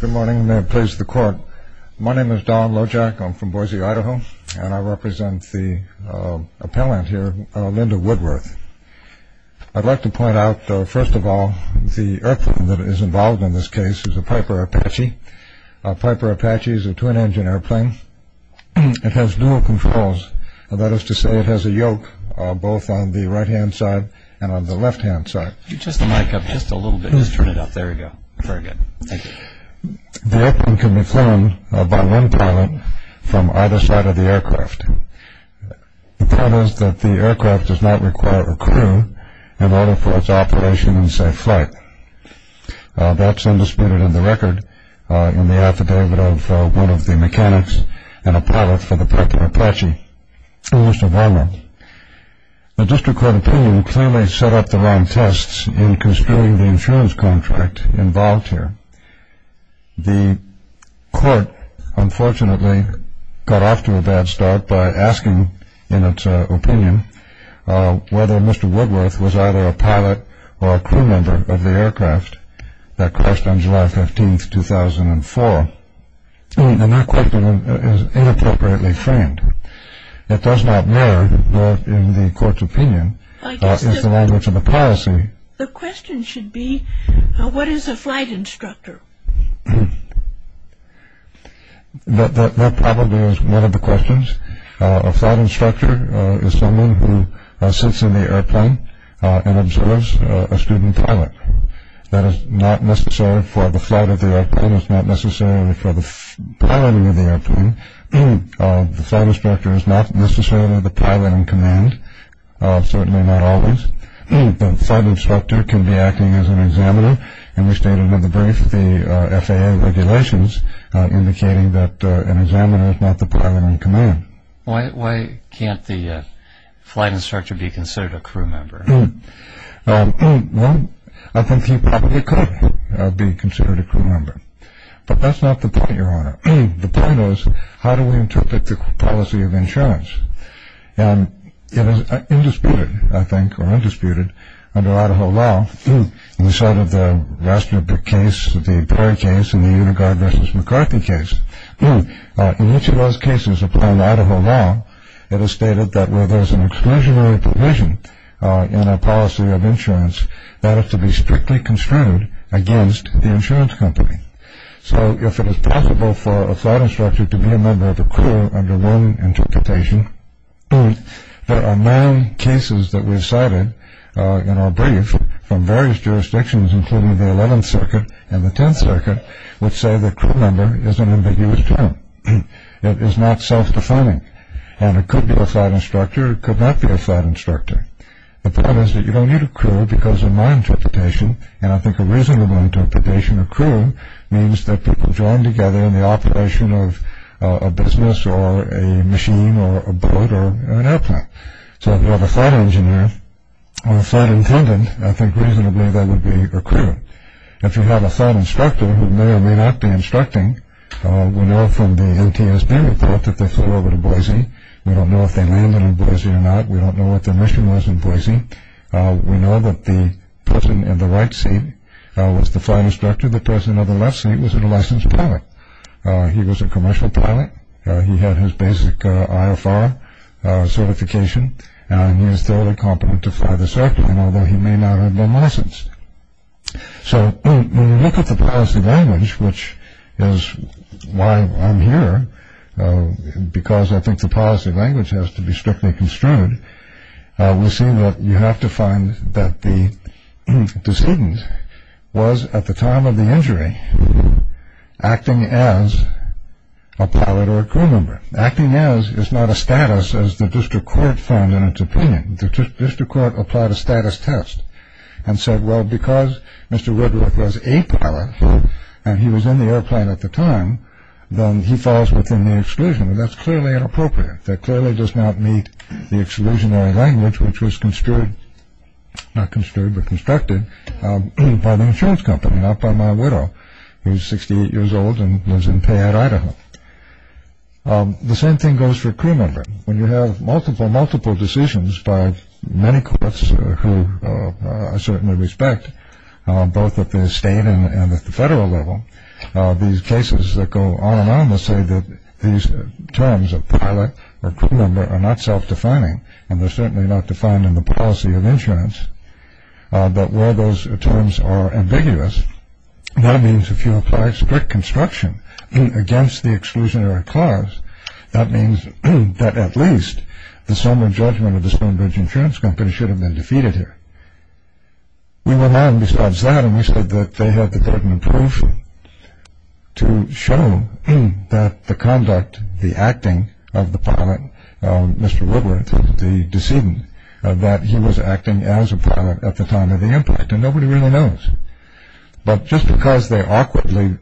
Good morning, and may it please the Court. My name is Don Lojack. I'm from Boise, Idaho, and I represent the appellant here, Linda Woodworth. I'd like to point out, first of all, the airplane that is involved in this case is a Piper Apache. A Piper Apache is a twin-engine airplane. It has dual controls, that is to say it has a yoke both on the right-hand side and on the left-hand side. Just the mic up just a little bit. Just turn it up. There you go. Very good. Thank you. The airplane can be flown by one pilot from either side of the aircraft. The problem is that the aircraft does not require a crew in order for its operation in safe flight. That's undisputed in the record in the affidavit of one of the mechanics and a pilot for the Piper Apache, Mr. Varma. The district court opinion clearly set up the wrong tests in construing the insurance contract involved here. The court unfortunately got off to a bad start by asking, in its opinion, whether Mr. Woodworth was either a pilot or a crew member of the aircraft that crashed on July 15, 2004. And that question is inappropriately framed. It does not matter that in the court's opinion is the language of the policy. The question should be what is a flight instructor? That probably is one of the questions. A flight instructor is someone who sits in the airplane and observes a student pilot. That is not necessary for the flight of the airplane. It's not necessarily for the piloting of the airplane. The flight instructor is not necessarily the pilot in command, certainly not always. The flight instructor can be acting as an examiner, and we stated in the brief the FAA regulations indicating that an examiner is not the pilot in command. Why can't the flight instructor be considered a crew member? Well, I think he probably could be considered a crew member, but that's not the point, Your Honor. The point is how do we interpret the policy of insurance? And it is indisputed, I think, or undisputed under Idaho law. We cited the Rastner case, the Perry case, and the Unigard v. McCarthy case. In each of those cases, upon Idaho law, it is stated that where there's an exclusionary provision in a policy of insurance, that is to be strictly construed against the insurance company. So if it is possible for a flight instructor to be a member of a crew under one interpretation, there are nine cases that we cited in our brief from various jurisdictions, including the 11th Circuit and the 10th Circuit, which say that crew member is an ambiguous term. It is not self-defining, and it could be a flight instructor. It could not be a flight instructor. The point is that you don't need a crew because in my interpretation, and I think a reasonable interpretation of crew means that people join together in the operation of a business or a machine or a boat or an airplane. So if you have a flight engineer or a flight attendant, I think reasonably they would be a crew. If you have a flight instructor who may or may not be instructing, we know from the ATSB report that they flew over to Boise. We don't know if they landed in Boise or not. We don't know what their mission was in Boise. We know that the person in the right seat was the flight instructor. The person in the left seat was a licensed pilot. He was a commercial pilot. He had his basic IFR certification, and he is thoroughly competent to fly the circuit, although he may not have been licensed. So when you look at the policy language, which is why I'm here, because I think the policy language has to be strictly construed, we see that you have to find that the decedent was, at the time of the injury, acting as a pilot or a crew member. Acting as is not a status, as the district court found in its opinion. The district court applied a status test and said, well, because Mr. Ridworth was a pilot and he was in the airplane at the time, then he falls within the exclusion. That's clearly inappropriate. That clearly does not meet the exclusionary language, which was constructed by the insurance company, not by my widow, who is 68 years old and lives in Payette, Idaho. The same thing goes for a crew member. When you have multiple, multiple decisions by many courts who I certainly respect, both at the state and at the federal level, these cases that go on and on will say that these terms of pilot or crew member are not self-defining and they're certainly not defined in the policy of insurance. But where those terms are ambiguous, that means if you apply strict construction against the exclusionary cause, that means that at least the summary judgment of the Stonebridge Insurance Company should have been defeated here. We went on besides that and we said that they had the burden of proof to show that the conduct, the acting of the pilot, Mr. Ridworth, the decedent, that he was acting as a pilot at the time of the impact. And nobody really knows. But just because they awkwardly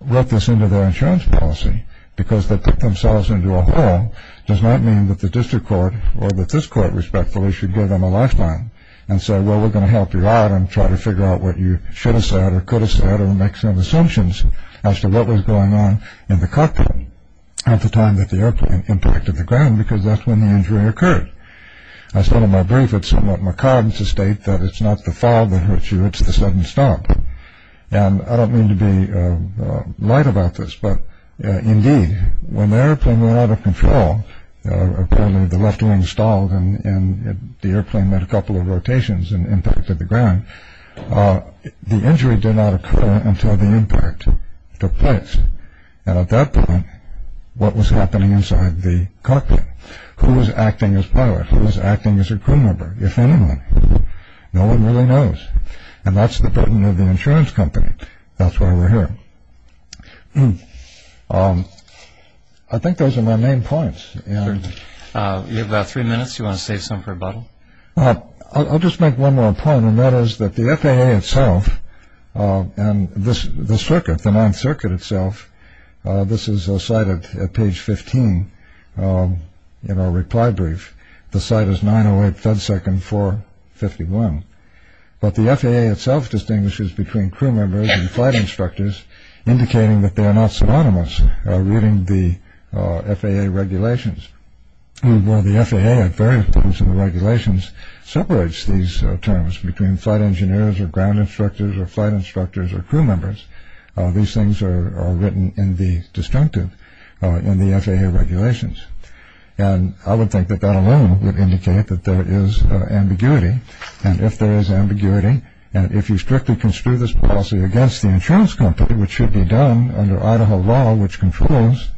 wrote this into their insurance policy because they put themselves into a hole does not mean that the district court or that this court, respectfully, should give them a lifeline and say, well, we're going to help you out and try to figure out what you should have said or could have said or make some assumptions as to what was going on in the cockpit at the time that the airplane impacted the ground because that's when the injury occurred. I said in my brief, it's somewhat macabre to state that it's not the fog that hurts you, it's the sudden stop. And I don't mean to be light about this, but indeed, when the airplane went out of control, the left wing stalled and the airplane had a couple of rotations and impacted the ground. The injury did not occur until the impact took place. And at that point, what was happening inside the cockpit? Who was acting as pilot? Who was acting as a crew member, if anyone? No one really knows. And that's the burden of the insurance company. That's why we're here. I think those are my main points. You have about three minutes. Do you want to save some for a bottle? I'll just make one more point, and that is that the FAA itself and the circuit, the ninth circuit itself, this is a site at page 15 in our reply brief. The site is 908 Thudsec and 451. But the FAA itself distinguishes between crew members and flight instructors, indicating that they are not synonymous reading the FAA regulations. While the FAA at various points in the regulations separates these terms between flight engineers or ground instructors or flight instructors or crew members, these things are written in the destructive in the FAA regulations. And I would think that that alone would indicate that there is ambiguity. And if there is ambiguity, and if you strictly construe this policy against the insurance company, which should be done under Idaho law, which controls,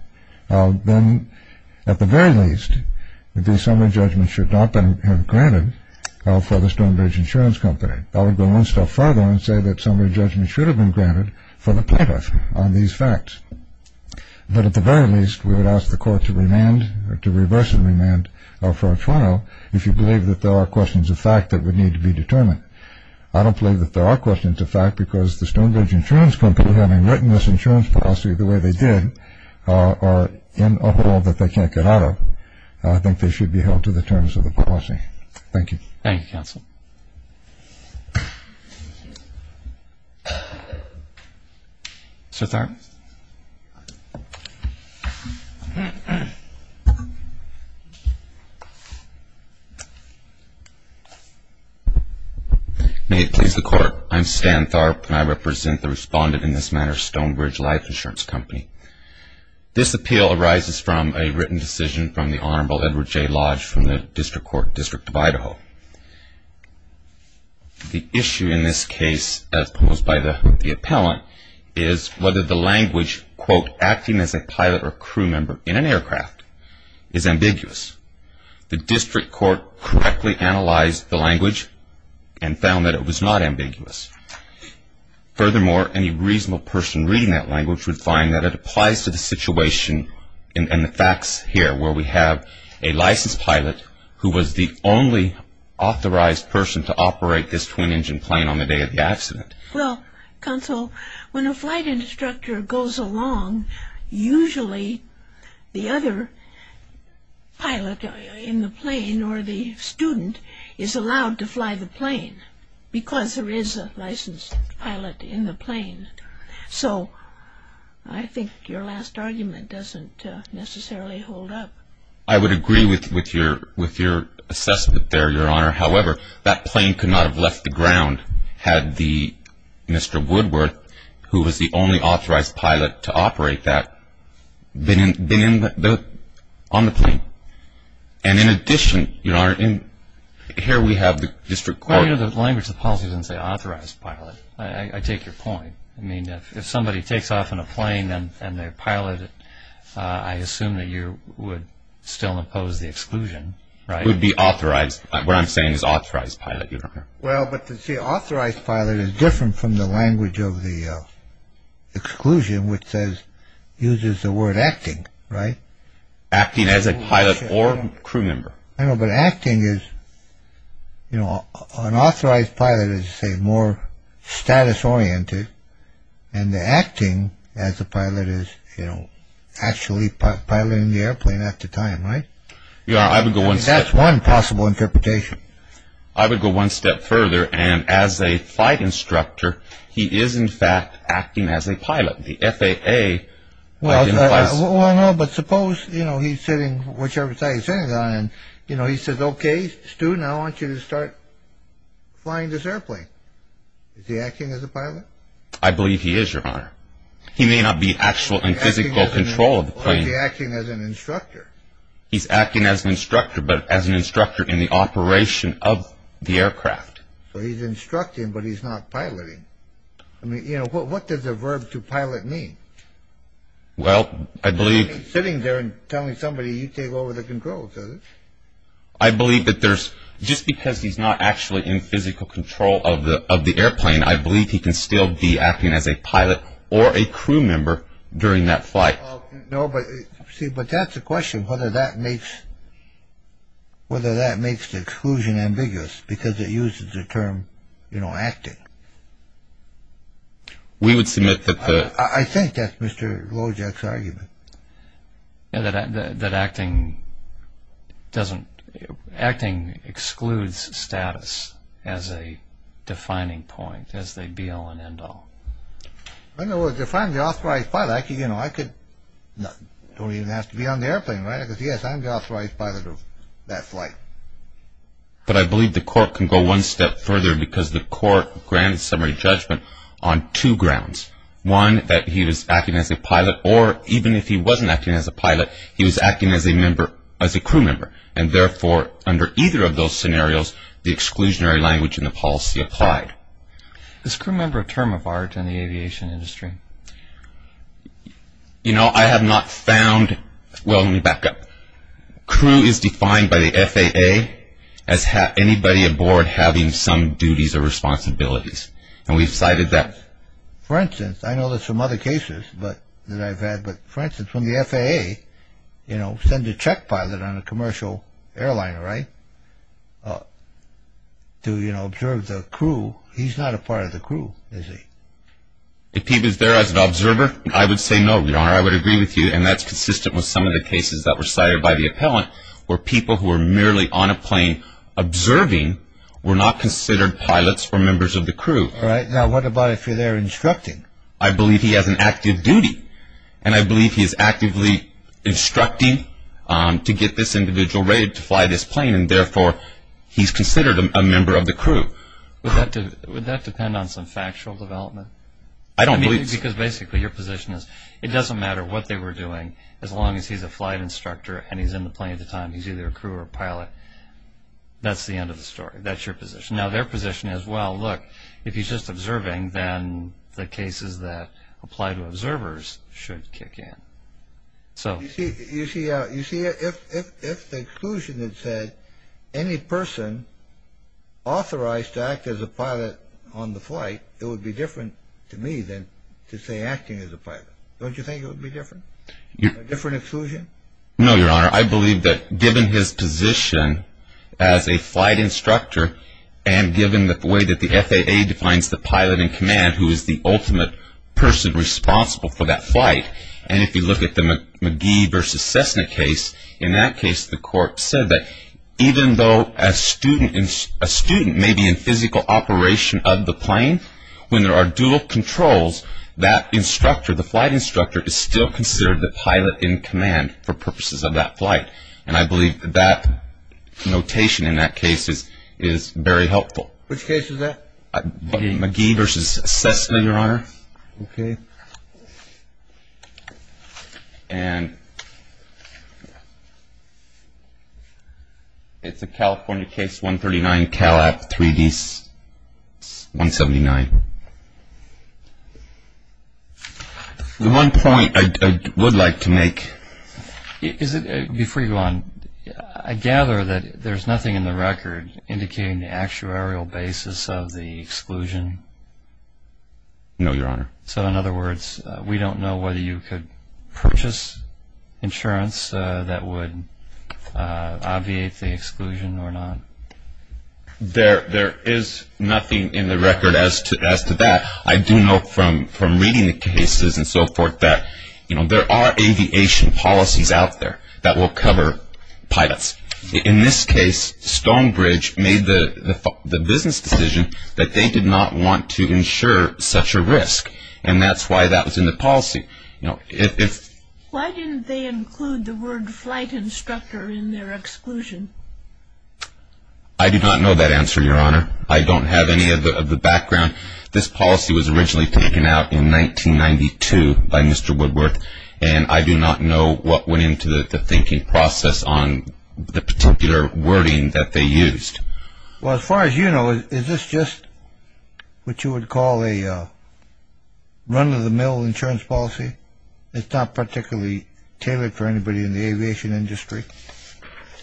then at the very least the summary judgment should not have been granted for the Stonebridge Insurance Company. I would go one step further and say that summary judgment should have been granted for the plaintiff on these facts. But at the very least, we would ask the court to remand or to reverse the remand for a trial if you believe that there are questions of fact that would need to be determined. I don't believe that there are questions of fact because the Stonebridge Insurance Company, having written this insurance policy the way they did, are in a hole that they can't get out of. I think they should be held to the terms of the policy. Thank you. Thank you, counsel. Mr. Tharpe. May it please the Court. I'm Stan Tharpe, and I represent the respondent in this matter, Stonebridge Life Insurance Company. This appeal arises from a written decision from the Honorable Edward J. Lodge from the District Court, and the issue in this case, as posed by the appellant, is whether the language, quote, acting as a pilot or crew member in an aircraft, is ambiguous. The District Court correctly analyzed the language and found that it was not ambiguous. Furthermore, any reasonable person reading that language would find that it applies to the situation and the facts here where we have a licensed pilot who was the only authorized person to operate this twin-engine plane on the day of the accident. Well, counsel, when a flight instructor goes along, usually the other pilot in the plane or the student is allowed to fly the plane So I think your last argument doesn't necessarily hold up. I would agree with your assessment there, Your Honor. However, that plane could not have left the ground had Mr. Woodworth, who was the only authorized pilot to operate that, been on the plane. And in addition, Your Honor, here we have the District Court. The point of the language of the policy doesn't say authorized pilot. I take your point. I mean, if somebody takes off in a plane and they're a pilot, I assume that you would still impose the exclusion, right? It would be authorized. What I'm saying is authorized pilot, Your Honor. Well, but see, authorized pilot is different from the language of the exclusion, which uses the word acting, right? Acting as a pilot or crew member. I know, but acting is, you know, an authorized pilot is, say, more status-oriented. And the acting as a pilot is, you know, actually piloting the airplane at the time, right? Your Honor, I would go one step further. That's one possible interpretation. I would go one step further. And as a flight instructor, he is, in fact, acting as a pilot. The FAA identifies... Well, no, but suppose, you know, he's sitting, whichever side he's sitting on, and, you know, he says, okay, student, I want you to start flying this airplane. Is he acting as a pilot? I believe he is, Your Honor. He may not be actual in physical control of the plane. Or is he acting as an instructor? He's acting as an instructor, but as an instructor in the operation of the aircraft. So he's instructing, but he's not piloting. I mean, you know, what does the verb to pilot mean? Well, I believe... He's sitting there and telling somebody, you take over the controls, is he? I believe that there's... Just because he's not actually in physical control of the airplane, I believe he can still be acting as a pilot or a crew member during that flight. No, but, see, but that's the question, whether that makes the exclusion ambiguous, because it uses the term, you know, acting. We would submit that the... I think that's Mr. Lojack's argument. That acting doesn't... Acting excludes status as a defining point, as they be all and end all. In other words, if I'm the authorized pilot, I could, you know, I could... Don't even have to be on the airplane, right? Because, yes, I'm the authorized pilot of that flight. But I believe the court can go one step further because the court granted summary judgment on two grounds. One, that he was acting as a pilot, or even if he wasn't acting as a pilot, he was acting as a crew member. And, therefore, under either of those scenarios, the exclusionary language in the policy applied. Is crew member a term of art in the aviation industry? You know, I have not found... Well, let me back up. Crew is defined by the FAA as anybody aboard having some duties or responsibilities. And we've cited that. For instance, I know there's some other cases that I've had. But, for instance, when the FAA, you know, sends a check pilot on a commercial airliner, right, to, you know, observe the crew, he's not a part of the crew, is he? If he was there as an observer, I would say no, Your Honor. I would agree with you. And that's consistent with some of the cases that were cited by the appellant where people who were merely on a plane observing were not considered pilots or members of the crew. All right. Now, what about if you're there instructing? I believe he has an active duty. And I believe he is actively instructing to get this individual ready to fly this plane. And, therefore, he's considered a member of the crew. Would that depend on some factual development? I don't believe so. Because, basically, your position is it doesn't matter what they were doing as long as he's a flight instructor and he's in the plane at the time. He's either a crew or a pilot. That's the end of the story. That's your position. Now, their position is, well, look, if he's just observing, then the cases that apply to observers should kick in. You see, if the exclusion had said any person authorized to act as a pilot on the flight, it would be different to me than to say acting as a pilot. Don't you think it would be different, a different exclusion? No, Your Honor. I believe that given his position as a flight instructor and given the way that the FAA defines the pilot in command, who is the ultimate person responsible for that flight, and if you look at the McGee versus Cessna case, in that case the court said that even though a student may be in physical operation of the plane, when there are dual controls, that instructor, the flight instructor, is still considered the pilot in command for purposes of that flight, and I believe that notation in that case is very helpful. Which case is that? McGee versus Cessna, Your Honor. Okay. And it's a California case 139, Cal-App 3D-179. The one point I would like to make. Before you go on, I gather that there's nothing in the record indicating the actuarial basis of the exclusion? No, Your Honor. So in other words, we don't know whether you could purchase insurance that would obviate the exclusion or not? There is nothing in the record as to that. I do know from reading the cases and so forth that there are aviation policies out there that will cover pilots. In this case, Stonebridge made the business decision that they did not want to insure such a risk, and that's why that was in the policy. Why didn't they include the word flight instructor in their exclusion? I do not know that answer, Your Honor. I don't have any of the background. This policy was originally taken out in 1992 by Mr. Woodworth, and I do not know what went into the thinking process on the particular wording that they used. Well, as far as you know, is this just what you would call a run-of-the-mill insurance policy? It's not particularly tailored for anybody in the aviation industry,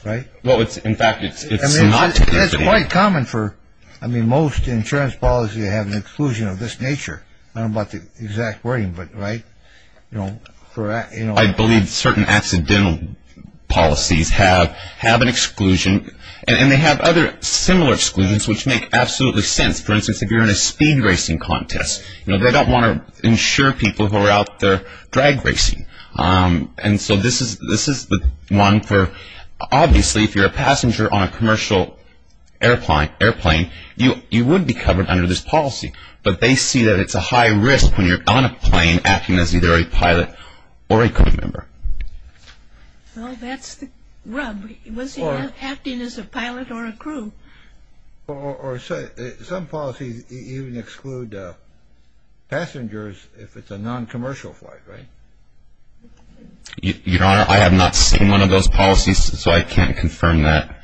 right? Well, in fact, it's not. It's quite common for most insurance policies to have an exclusion of this nature. I don't know about the exact wording, but, right? I believe certain accidental policies have an exclusion, and they have other similar exclusions which make absolutely sense. For instance, if you're in a speed racing contest, you know, they don't want to insure people who are out there drag racing. And so this is the one for, obviously, if you're a passenger on a commercial airplane, you would be covered under this policy, but they see that it's a high risk when you're on a plane acting as either a pilot or a crew member. Well, that's the rub. Was he not acting as a pilot or a crew? Or some policies even exclude passengers if it's a non-commercial flight, right? Your Honor, I have not seen one of those policies, so I can't confirm that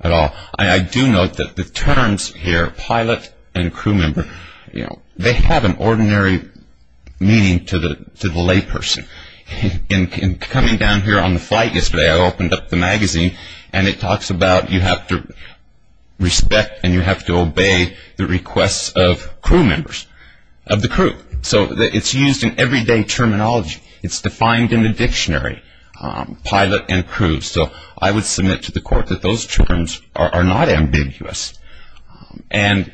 at all. I do note that the terms here, pilot and crew member, you know, they have an ordinary meaning to the layperson. In coming down here on the flight yesterday, I opened up the magazine, and it talks about you have to respect and you have to obey the requests of crew members, of the crew. So it's used in everyday terminology. It's defined in the dictionary, pilot and crew. So I would submit to the court that those terms are not ambiguous. And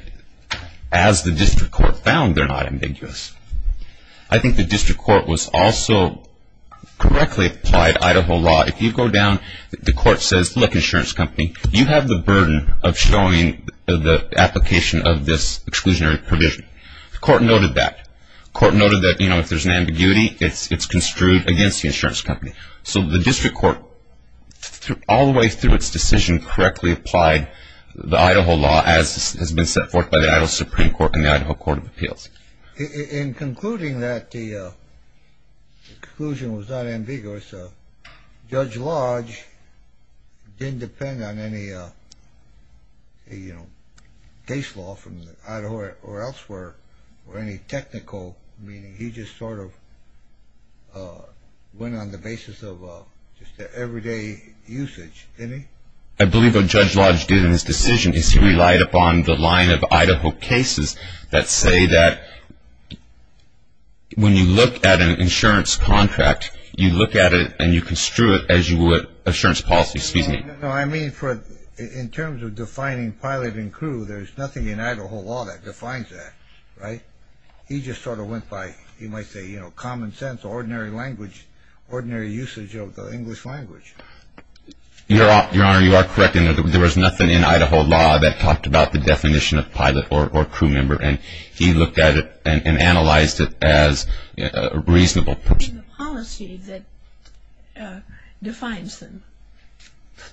as the district court found, they're not ambiguous. I think the district court was also correctly applied Idaho law. If you go down, the court says, look, insurance company, you have the burden of showing the application of this exclusionary provision. The court noted that. The court noted that, you know, if there's an ambiguity, it's construed against the insurance company. So the district court, all the way through its decision, correctly applied the Idaho law as has been set forth by the Idaho Supreme Court and the Idaho Court of Appeals. In concluding that, the conclusion was not ambiguous. Judge Lodge didn't depend on any, you know, case law from Idaho or elsewhere or any technical meaning. He just sort of went on the basis of just the everyday usage, didn't he? I believe what Judge Lodge did in his decision is he relied upon the line of Idaho cases that say that when you look at an insurance contract, you look at it and you construe it as you would insurance policy. No, I mean, in terms of defining pilot and crew, there's nothing in Idaho law that defines that, right? He just sort of went by, you might say, you know, common sense, ordinary language, ordinary usage of the English language. Your Honor, you are correct in that there was nothing in Idaho law that talked about the definition of pilot or crew member, and he looked at it and analyzed it as a reasonable person. In the policy that defines them.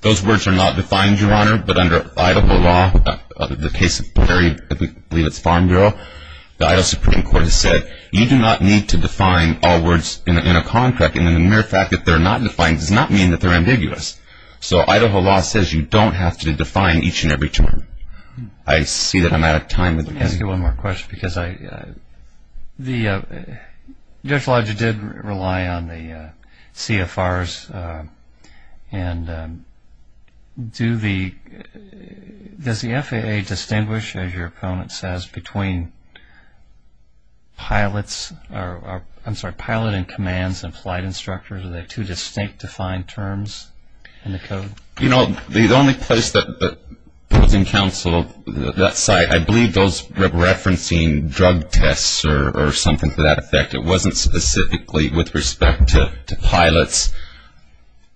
Those words are not defined, Your Honor, but under Idaho law, the case of Prairie, I believe it's Farm Bureau, the Idaho Supreme Court has said you do not need to define all words in a contract, and the mere fact that they're not defined does not mean that they're ambiguous. So Idaho law says you don't have to define each and every term. I see that I'm out of time. Let me ask you one more question because Judge Lodge did rely on the CFRs, and does the FAA distinguish, as your opponent says, between pilot and commands and flight instructors? Are they two distinct defined terms in the code? You know, the only place that was in counsel of that site, I believe those referencing drug tests or something to that effect, it wasn't specifically with respect to pilots.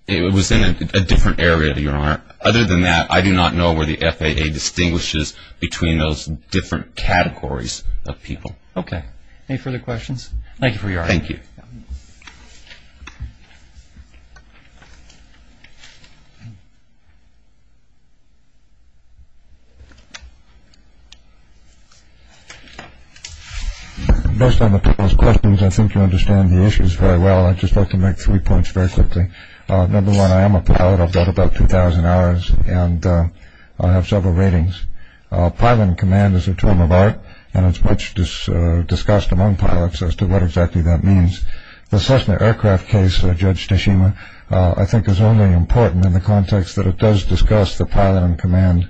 It was in a different area, Your Honor. Other than that, I do not know where the FAA distinguishes between those different categories of people. Okay. Any further questions? Thank you for your argument. Thank you. Thank you. Most of those questions, I think you understand the issues very well. I'd just like to make three points very quickly. Number one, I am a pilot. I've got about 2,000 hours, and I have several ratings. Pilot and command is a term of art, and it's much discussed among pilots as to what exactly that means. The Cessna aircraft case, Judge Teshima, I think is only important in the context that it does discuss the pilot and command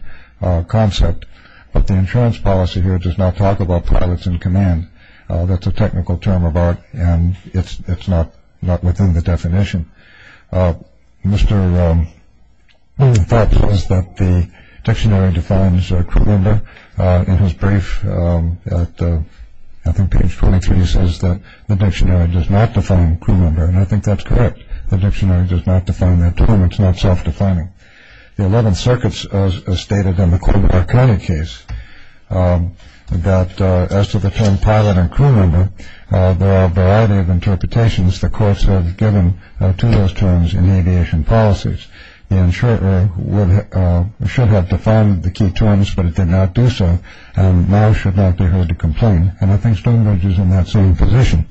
concept, but the insurance policy here does not talk about pilots and command. That's a technical term of art, and it's not within the definition. One of the thoughts was that the dictionary defines a crew member. In his brief at, I think, page 23, he says that the dictionary does not define a crew member, and I think that's correct. The dictionary does not define that term. It's not self-defining. The Eleventh Circuit has stated in the Colbert-Arcana case that as to the term pilot and crew member, there are a variety of interpretations the courts have given to those terms in aviation policies. In short, it should have defined the key terms, but it did not do so, and now should not be heard to complain. And I think Stonebridge is in that same position.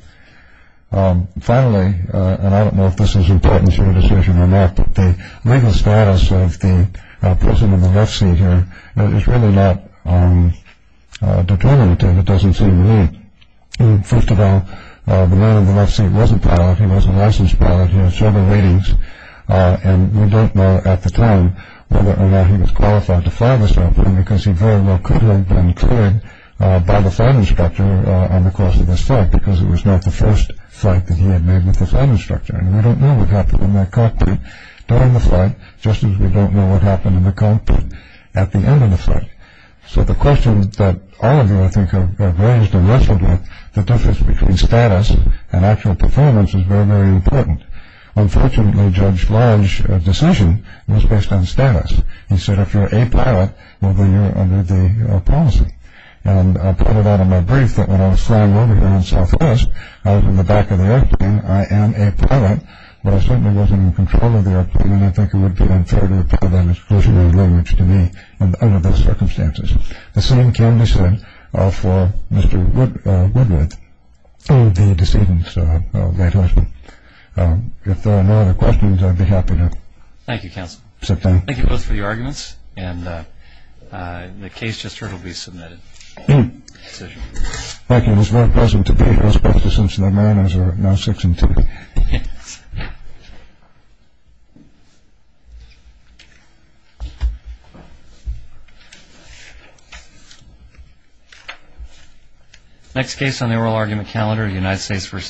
Finally, and I don't know if this is important for a decision or not, but the legal status of the person in the left seat here is really not determinative. First of all, the man in the left seat was a pilot. He was a licensed pilot. He had several ratings, and we don't know at the time whether or not he was qualified to fly this airplane because he very well could have been cleared by the flight instructor on the course of this flight because it was not the first flight that he had made with the flight instructor, and we don't know what happened in that cockpit during the flight, just as we don't know what happened in the cockpit at the end of the flight. So the question that all of you, I think, have raised and wrestled with, the difference between status and actual performance is very, very important. Unfortunately, Judge Lodge's decision was based on status. He said if you're a pilot, well, then you're under the policy, and I pointed out in my brief that when I was flying over here on Southwest, I was in the back of the airplane. I am a pilot, but I certainly wasn't in control of the airplane, and I think it would be unfair to apply that exclusionary language to me under those circumstances. The same can be said for Mr. Woodworth, the decedent's late husband. If there are no other questions, I'd be happy to sit down. Thank you, counsel. Thank you both for your arguments, and the case just heard will be submitted. Thank you. It was very pleasant to be here, especially since the mariners are now six and two. Next case on the oral argument calendar, United States v. SEMA.